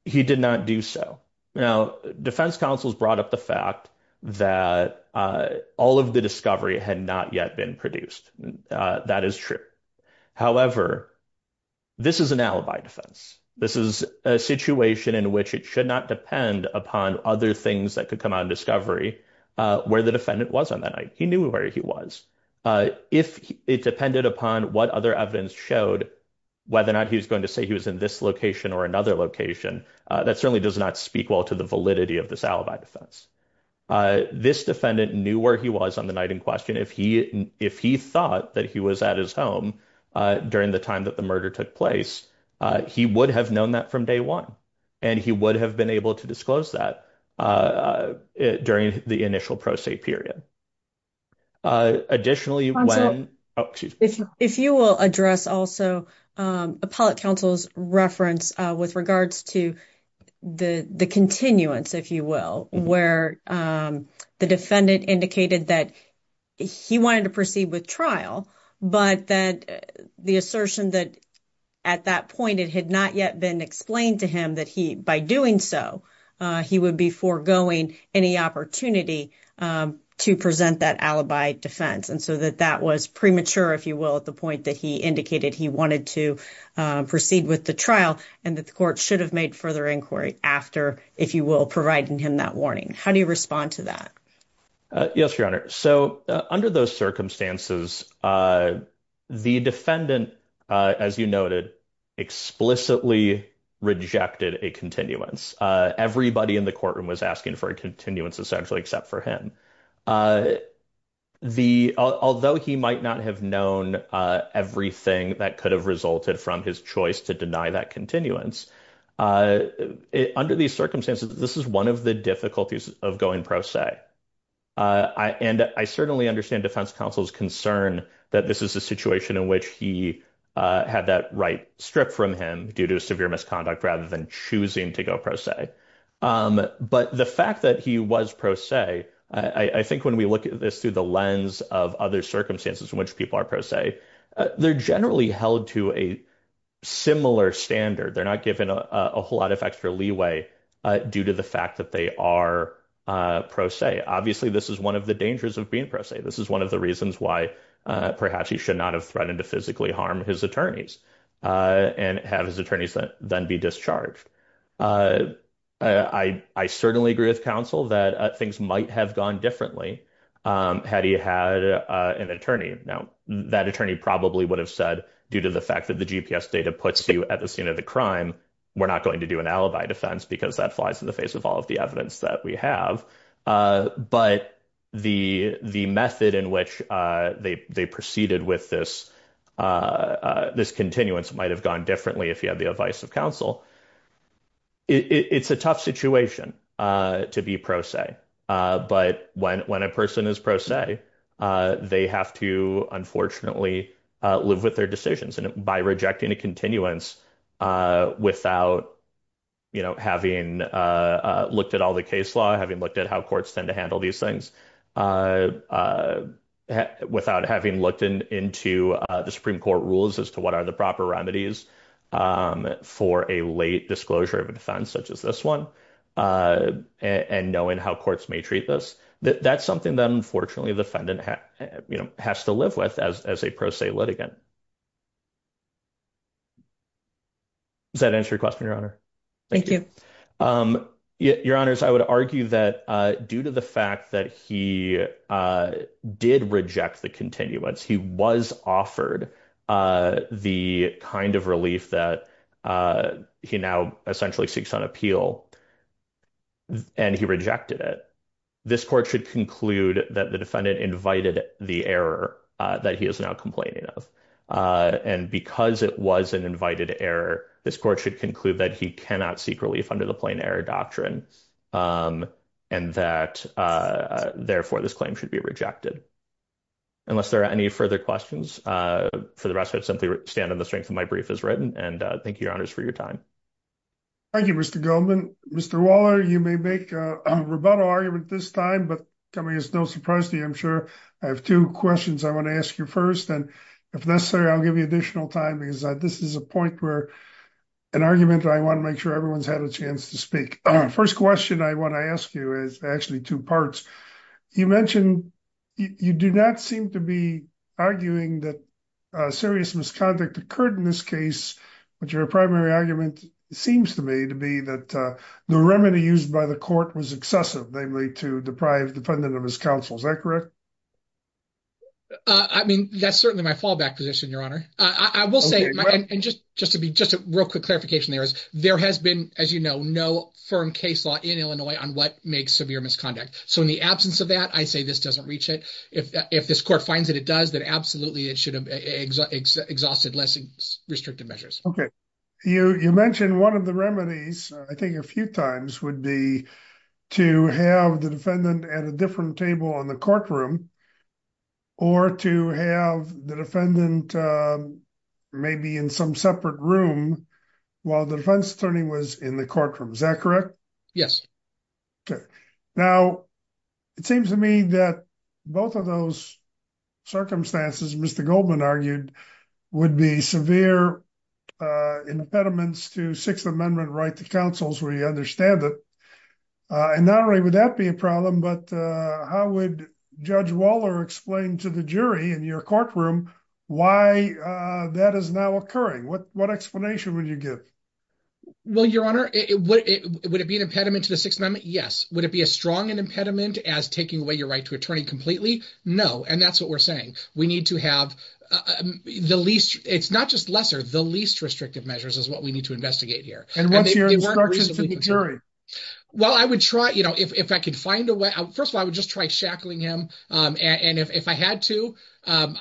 he did not do so now defense counsels brought up the fact that uh all of the discovery had not yet been produced uh that is true however this is an alibi defense this is a situation in which it should not depend upon other things that could come out of discovery uh where the defendant was on that night he knew where he was uh if it depended upon what other evidence showed whether or not he was going to say he was in this location or another location uh that certainly does not speak well to the validity of this alibi defense this defendant knew where he was on the night in question if he if he thought that he was at his during the time that the murder took place uh he would have known that from day one and he would have been able to disclose that uh during the initial pro se period uh additionally when oh excuse me if you will address also um appellate counsel's reference uh with regards to the the continuance if you will where um the defendant indicated that he wanted to proceed with trial but that the assertion that at that point it had not yet been explained to him that he by doing so uh he would be foregoing any opportunity um to present that alibi defense and so that that was premature if you will at the point that he indicated he wanted to proceed with the trial and that the court should have made further inquiry after if you will providing him that warning how do you respond to that yes your honor so under those circumstances uh the defendant uh as you noted explicitly rejected a continuance uh everybody in the courtroom was asking for a continuance essentially except for him uh the although he might not have known uh everything that could have resulted from his choice to deny that continuance uh under these circumstances this is one of the difficulties of going pro se uh and i certainly understand defense counsel's concern that this is a situation in which he uh had that right strip from him due to severe misconduct rather than choosing to go pro se um but the fact that he was pro se i i think when we look at this through the lens of other circumstances in which people are pro se they're generally held to a similar standard they're not given a whole lot of extra leeway uh due to the fact that they are uh pro se obviously this is one of the dangers of being pro se this is one of the reasons why uh perhaps he should not have threatened to physically harm his attorneys uh and have his attorneys then be discharged uh i i certainly agree with counsel that things might have gone differently um had he had uh an attorney now that attorney probably would have said due to the fact that the gps data puts you at the scene of the crime we're not going to do an alibi defense because that flies in the face of all of the evidence that we have uh but the the method in which uh they they proceeded with this uh this continuance might have gone differently if he had counsel it's a tough situation uh to be pro se uh but when when a person is pro se uh they have to unfortunately uh live with their decisions and by rejecting a continuance uh without you know having uh looked at all the case law having looked at how courts tend to handle these things uh uh without having looked into uh the supreme court rules as to what are the proper remedies um for a late disclosure of a defense such as this one uh and knowing how courts may treat this that's something that unfortunately the defendant has to live with as as a pro se litigant does that answer your question your honor thank you um your honors i would argue that uh due to the fact that he uh did reject the continuance he was offered uh the kind of relief that uh he now essentially seeks on appeal and he rejected it this court should conclude that the defendant invited the error uh that he is now complaining of uh and because it was an invited error this court should conclude that he cannot seek relief under the plain error doctrine um and that uh therefore this claim should be rejected unless there are any further questions uh for the rest i'd simply stand on the strength of my brief is written and thank you your honors for your time thank you mr goldman mr waller you may make a rebuttal argument this time but coming is no surprise to you i'm sure i have two questions i want to ask you first and if necessary i'll give you additional time because this is a point where an argument i want to make sure everyone's had a chance to speak first question i want to ask you is actually two parts you mentioned you do not seem to be arguing that a serious misconduct occurred in this case but your primary argument seems to me to be that uh the remedy used by the court was excessive namely to deprive the defendant of his counsel is that correct i mean that's certainly my fallback position your honor i will say and just just to be just a real quick clarification there is there has been as you know no firm case law in illinois on what makes severe misconduct so in the absence of that i say this doesn't reach it if if this court finds that it does that absolutely it should have exhausted less restrictive measures okay you you mentioned one of the remedies i think a few times would be to have the defendant at a different table in the courtroom or to have the defendant maybe in some separate room while the defense attorney was in the courtroom is that correct yes okay now it seems to me that both of those circumstances mr goldman argued would be severe uh impediments to sixth amendment right to counsel's where you understand it and not only would that be a problem but uh how would judge waller explain to the jury in your courtroom why uh that is now occurring what what explanation would you give well your honor it would it would it be an impediment to the sixth amendment yes would it be as strong an impediment as taking away your right to attorney completely no and that's what we're saying we need to have the least it's not just lesser the least restrictive measures is what we need to investigate here and what's your instructions to the jury well i would try you know if i could first of all i would just try shackling him um and if if i had to um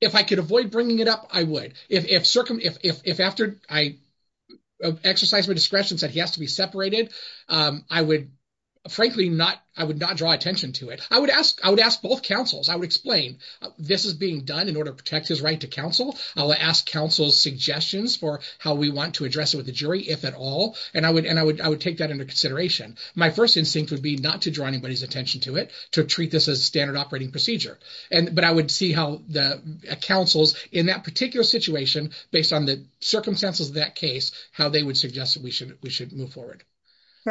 if i could avoid bringing it up i would if if if after i exercise my discretion said he has to be separated um i would frankly not i would not draw attention to it i would ask i would ask both councils i would explain this is being done in order to protect his right to counsel i'll ask counsel's suggestions for how we want to address it with the jury if at all and i would and i would i would that under consideration my first instinct would be not to draw anybody's attention to it to treat this as standard operating procedure and but i would see how the councils in that particular situation based on the circumstances of that case how they would suggest that we should we should move forward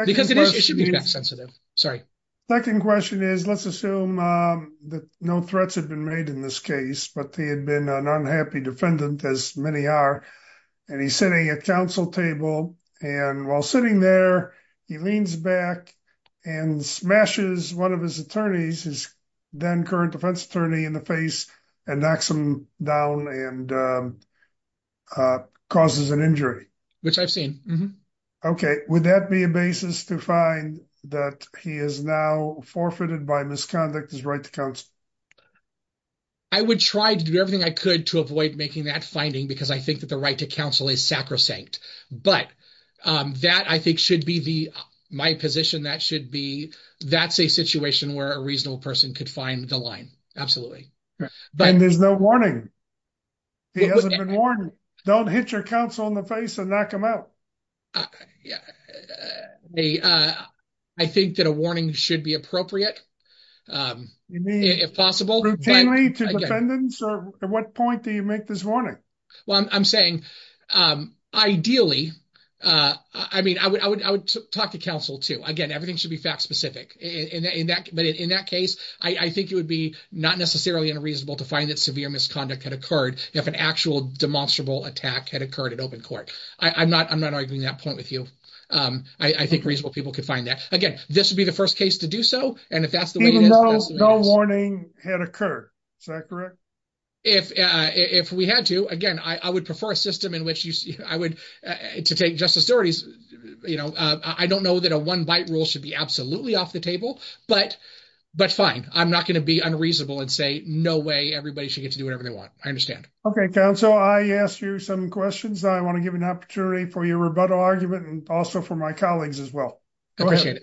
because it is it should be sensitive sorry second question is let's assume um that no threats have been made in this case but they had been an unhappy defendant as many are and he's sitting at council table and while sitting there he leans back and smashes one of his attorneys his then current defense attorney in the face and knocks him down and uh uh causes an injury which i've seen okay would that be a basis to find that he is now forfeited by misconduct his right to counsel i would try to do everything i could to avoid making that finding because i think that the right to counsel is sacrosanct but um that i think should be the my position that should be that's a situation where a reasonable person could find the line absolutely but there's no warning he hasn't been warned don't hit your counsel in the face and knock him out yeah they uh i think that a warning should be appropriate um you mean if possible routinely so at what point do you make this warning well i'm saying um ideally uh i mean i would i would i would talk to counsel too again everything should be fact specific in that but in that case i i think it would be not necessarily unreasonable to find that severe misconduct had occurred if an actual demonstrable attack had occurred at open court i i'm not i'm not arguing that point with you um i think reasonable people could find that again this would be the first case to do so and even though no warning had occurred is that correct if uh if we had to again i i would prefer a system in which you see i would to take justice stories you know uh i don't know that a one bite rule should be absolutely off the table but but fine i'm not going to be unreasonable and say no way everybody should get to do whatever they want i understand okay counsel i asked you some questions i want to give an opportunity for your rebuttal argument and also for my colleagues as appreciate it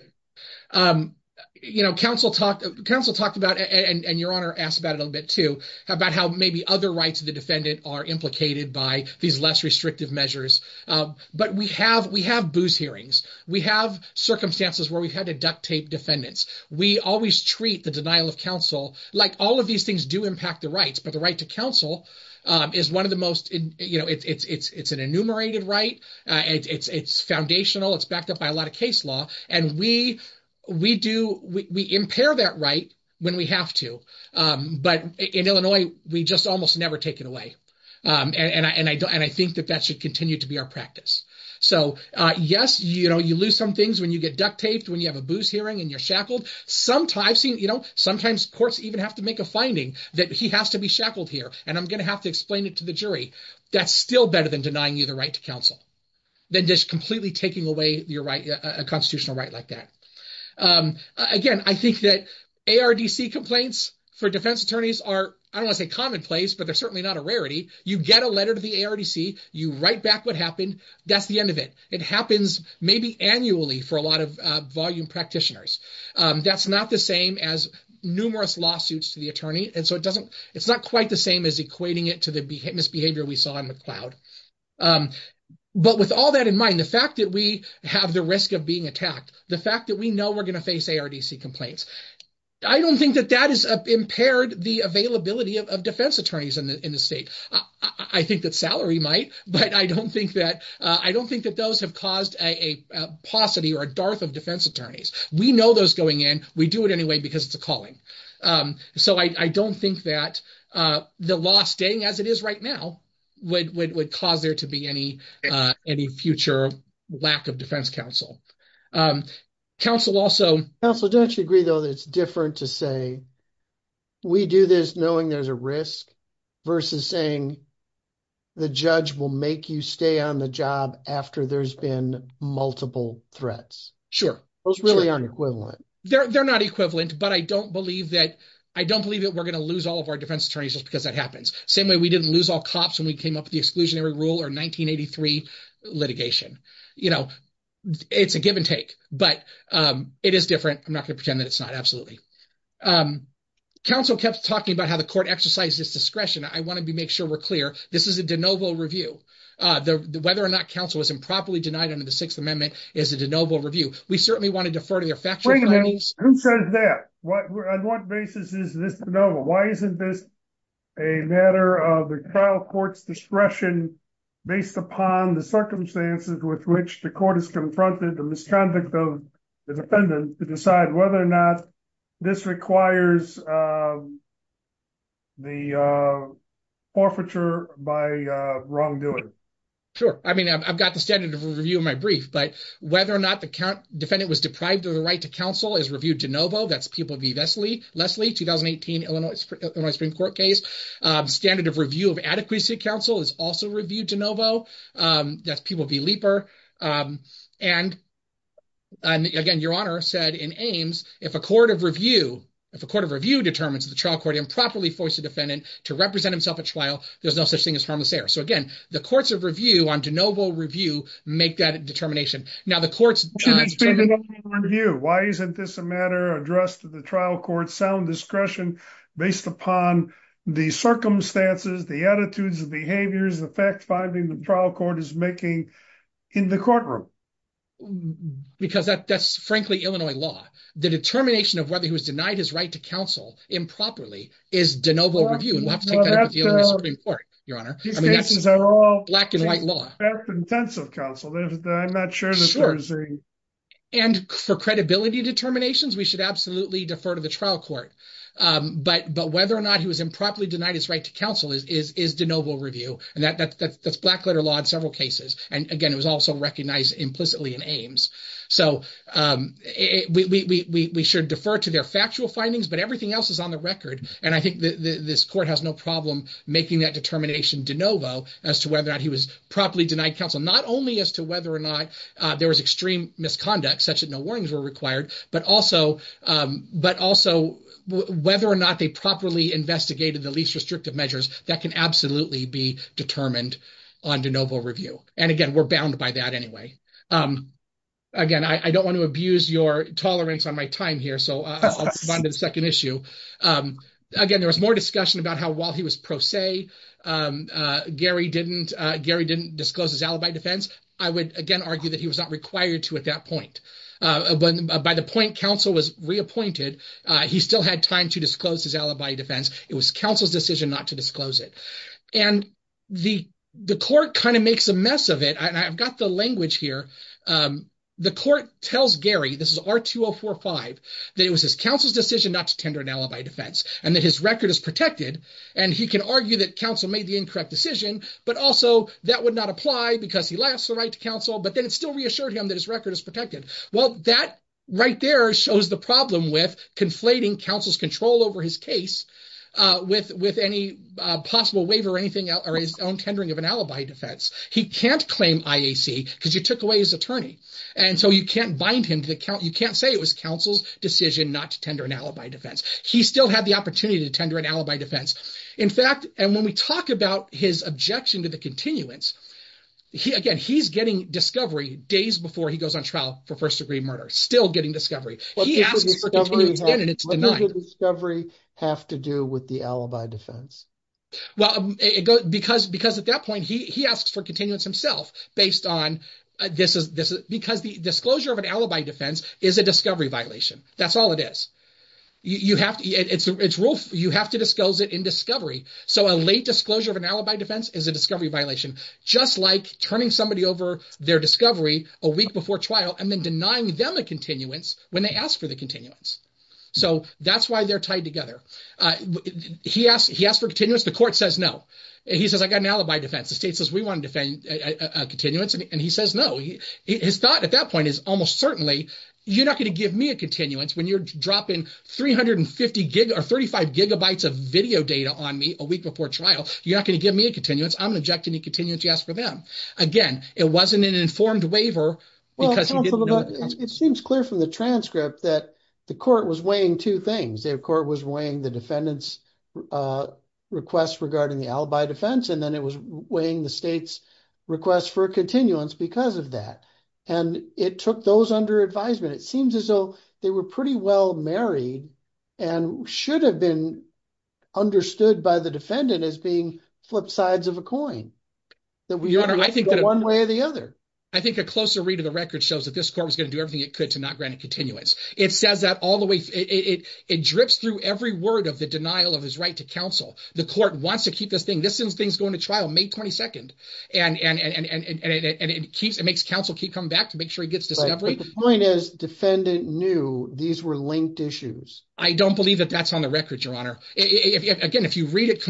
um you know counsel talked counsel talked about and and your honor asked about a little bit too about how maybe other rights of the defendant are implicated by these less restrictive measures um but we have we have booze hearings we have circumstances where we've had to duct tape defendants we always treat the denial of counsel like all of these things do impact the rights but the right to counsel um is one of the most you know it's it's it's an enumerated right uh it's it's foundational it's backed up by a lot of case law and we we do we impair that right when we have to um but in illinois we just almost never take it away um and i and i and i think that that should continue to be our practice so uh yes you know you lose some things when you get duct taped when you have a booze hearing and you're shackled sometimes you know sometimes courts even have to make a finding that he has to be shackled here and i'm gonna have to explain it to the jury that's still better than denying you the right to counsel than just completely taking away your right a constitutional right like that um again i think that ardc complaints for defense attorneys are i don't want to say commonplace but they're certainly not a rarity you get a letter to the ardc you write back what happened that's the end of it it happens maybe annually for a lot of uh volume practitioners um that's not the same as numerous lawsuits to the attorney and so it it's not quite the same as equating it to the misbehavior we saw in the cloud but with all that in mind the fact that we have the risk of being attacked the fact that we know we're going to face ardc complaints i don't think that that is impaired the availability of defense attorneys in the in the state i i think that salary might but i don't think that i don't think that those have caused a paucity or a dearth of defense attorneys we know those going in we do it because it's a calling um so i i don't think that uh the law staying as it is right now would would cause there to be any uh any future lack of defense counsel um counsel also counsel don't you agree though that it's different to say we do this knowing there's a risk versus saying the judge will make you stay on the job after there's been multiple threats sure those really they're they're not equivalent but i don't believe that i don't believe that we're going to lose all of our defense attorneys just because that happens same way we didn't lose all cops when we came up with the exclusionary rule or 1983 litigation you know it's a give and take but um it is different i'm not going to pretend that it's not absolutely um counsel kept talking about how the court exercises discretion i want to be make sure we're clear this is a de novo review uh the whether or not counsel was improperly denied under the sixth amendment is a de novo review we certainly want to defer to their factory who said that what on what basis is this de novo why isn't this a matter of the trial court's discretion based upon the circumstances with which the court has confronted the misconduct of the defendant to decide whether or not this requires um the uh forfeiture by uh wrongdoing sure i mean i've got the standard of review in my brief but whether or not the defendant was deprived of the right to counsel is reviewed de novo that's people be leslie leslie 2018 illinois spring court case um standard of review of adequacy council is also reviewed de novo um that's people be leaper um and and again your honor said in aims if a court of review if a court of review determines the trial court improperly forced the defendant to represent himself at trial there's no such thing so again the courts of review on de novo review make that determination now the court's review why isn't this a matter addressed to the trial court sound discretion based upon the circumstances the attitudes the behaviors the fact finding the trial court is making in the courtroom because that that's frankly illinois law the determination of whether he was denied his right to counsel improperly is de novo review and we'll have to take that up with you your honor black and white law intensive counsel i'm not sure and for credibility determinations we should absolutely defer to the trial court um but but whether or not he was improperly denied his right to counsel is is de novo review and that that's that's black letter law in several cases and again it was also recognized implicitly in aims so um we we we should defer to their findings but everything else is on the record and i think this court has no problem making that determination de novo as to whether or not he was properly denied counsel not only as to whether or not uh there was extreme misconduct such that no warnings were required but also um but also whether or not they properly investigated the least restrictive measures that can absolutely be determined on de novo review and again we're bound by that anyway um again i i don't want to second issue um again there was more discussion about how while he was pro se um uh gary didn't gary didn't disclose his alibi defense i would again argue that he was not required to at that point uh but by the point counsel was reappointed uh he still had time to disclose his alibi defense it was counsel's decision not to disclose it and the the court kind of makes a mess of it i've got the language here um the court tells gary this is r2045 that it was his counsel's decision not to tender an alibi defense and that his record is protected and he can argue that counsel made the incorrect decision but also that would not apply because he lost the right to counsel but then it still reassured him that his record is protected well that right there shows the problem with conflating counsel's control over his case uh with with any uh possible waiver or his own tendering of an alibi defense he can't claim iac because you took away his attorney and so you can't bind him to the count you can't say it was counsel's decision not to tender an alibi defense he still had the opportunity to tender an alibi defense in fact and when we talk about his objection to the continuance he again he's getting discovery days before he goes on trial for first-degree murder still getting discovery he asks and it's denied discovery have to do with alibi defense well it goes because because at that point he he asks for continuance himself based on this is this because the disclosure of an alibi defense is a discovery violation that's all it is you you have to it's it's rule you have to disclose it in discovery so a late disclosure of an alibi defense is a discovery violation just like turning somebody over their discovery a week before trial and then denying them a continuance when they ask for the continuance so that's why they're tied together uh he asked he asked for continuance the court says no he says i got an alibi defense the state says we want to defend a continuance and he says no he his thought at that point is almost certainly you're not going to give me a continuance when you're dropping 350 gig or 35 gigabytes of video data on me a week before trial you're not going to give me a continuance i'm going to object to any continuance you ask for them again it wasn't an informed waiver because it seems clear from the transcript that the court was weighing two things their court was weighing the defendant's uh request regarding the alibi defense and then it was weighing the state's request for continuance because of that and it took those under advisement it seems as though they were pretty well married and should have been understood by the defendant as being flip sides of a coin that we honor i think that one way or the other i think a closer read of the record shows that this court was going to do everything it could to not grant a continuance it says that all the way it it drips through every word of the denial of his right to counsel the court wants to keep this thing this thing's going to trial may 22nd and and and and and and it keeps it makes counsel keep coming back to make sure he gets discovery the point is defendant knew these were linked issues i don't believe that that's on the record your honor if again if you read it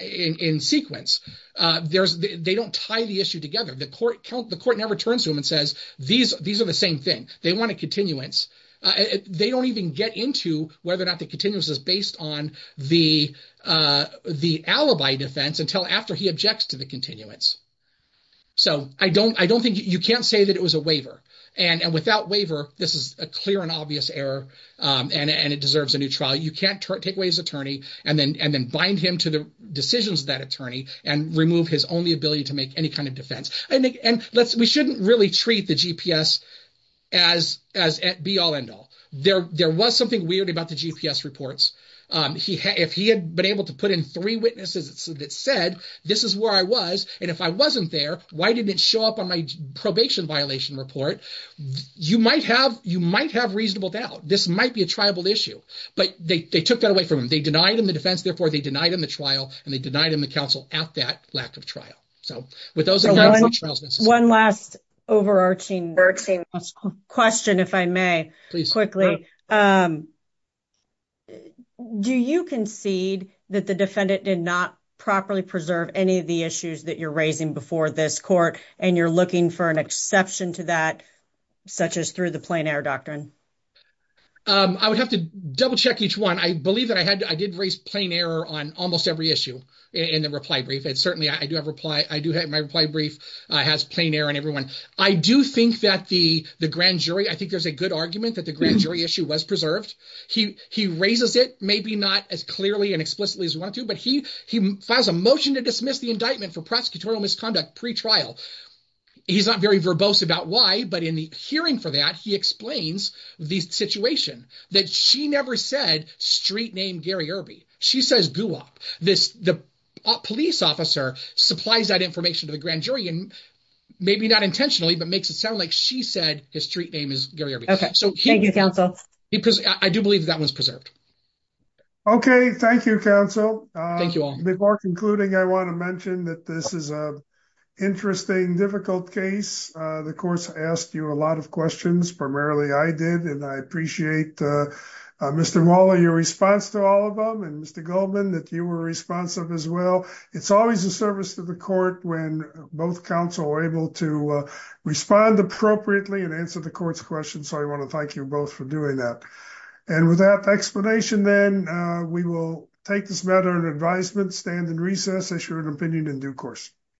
in sequence uh there's they don't tie the issue together the court count the court never turns to him and says these these are the same thing they want a continuance uh they don't even get into whether or not the continuous is based on the uh the alibi defense until after he objects to the continuance so i don't i don't think you can't say that it was a waiver and and without waiver this is a clear and obvious error um and and it deserves a new trial you can't take away his that attorney and remove his only ability to make any kind of defense i think and let's we shouldn't really treat the gps as as at be all end all there there was something weird about the gps reports um he had if he had been able to put in three witnesses that said this is where i was and if i wasn't there why didn't it show up on my probation violation report you might have you might have reasonable doubt this might be a tribal issue but they they took that away from him they in the defense therefore they denied him the trial and they denied him the counsel at that lack of trial so with those trials one last overarching question if i may please quickly um do you concede that the defendant did not properly preserve any of the issues that you're raising before this court and you're looking for an exception to that such as through the on almost every issue in the reply brief and certainly i do have reply i do have my reply brief uh has plain air and everyone i do think that the the grand jury i think there's a good argument that the grand jury issue was preserved he he raises it maybe not as clearly and explicitly as we want to but he he files a motion to dismiss the indictment for prosecutorial misconduct pre-trial he's not very verbose about why but in the hearing for that he explains the situation that she never said street name gary erby she says goop this the police officer supplies that information to the grand jury and maybe not intentionally but makes it sound like she said his street name is gary okay so thank you counsel because i do believe that was preserved okay thank you counsel thank you all before concluding i want to mention that this is a interesting difficult case the courts asked you a lot of questions primarily i did and i appreciate mr waller your response to all of them and mr goldman that you were responsive as well it's always a service to the court when both counsel are able to respond appropriately and answer the court's questions so i want to thank you both for doing that and with that explanation then we will take this matter in advisement stand in recess issue an opinion in due course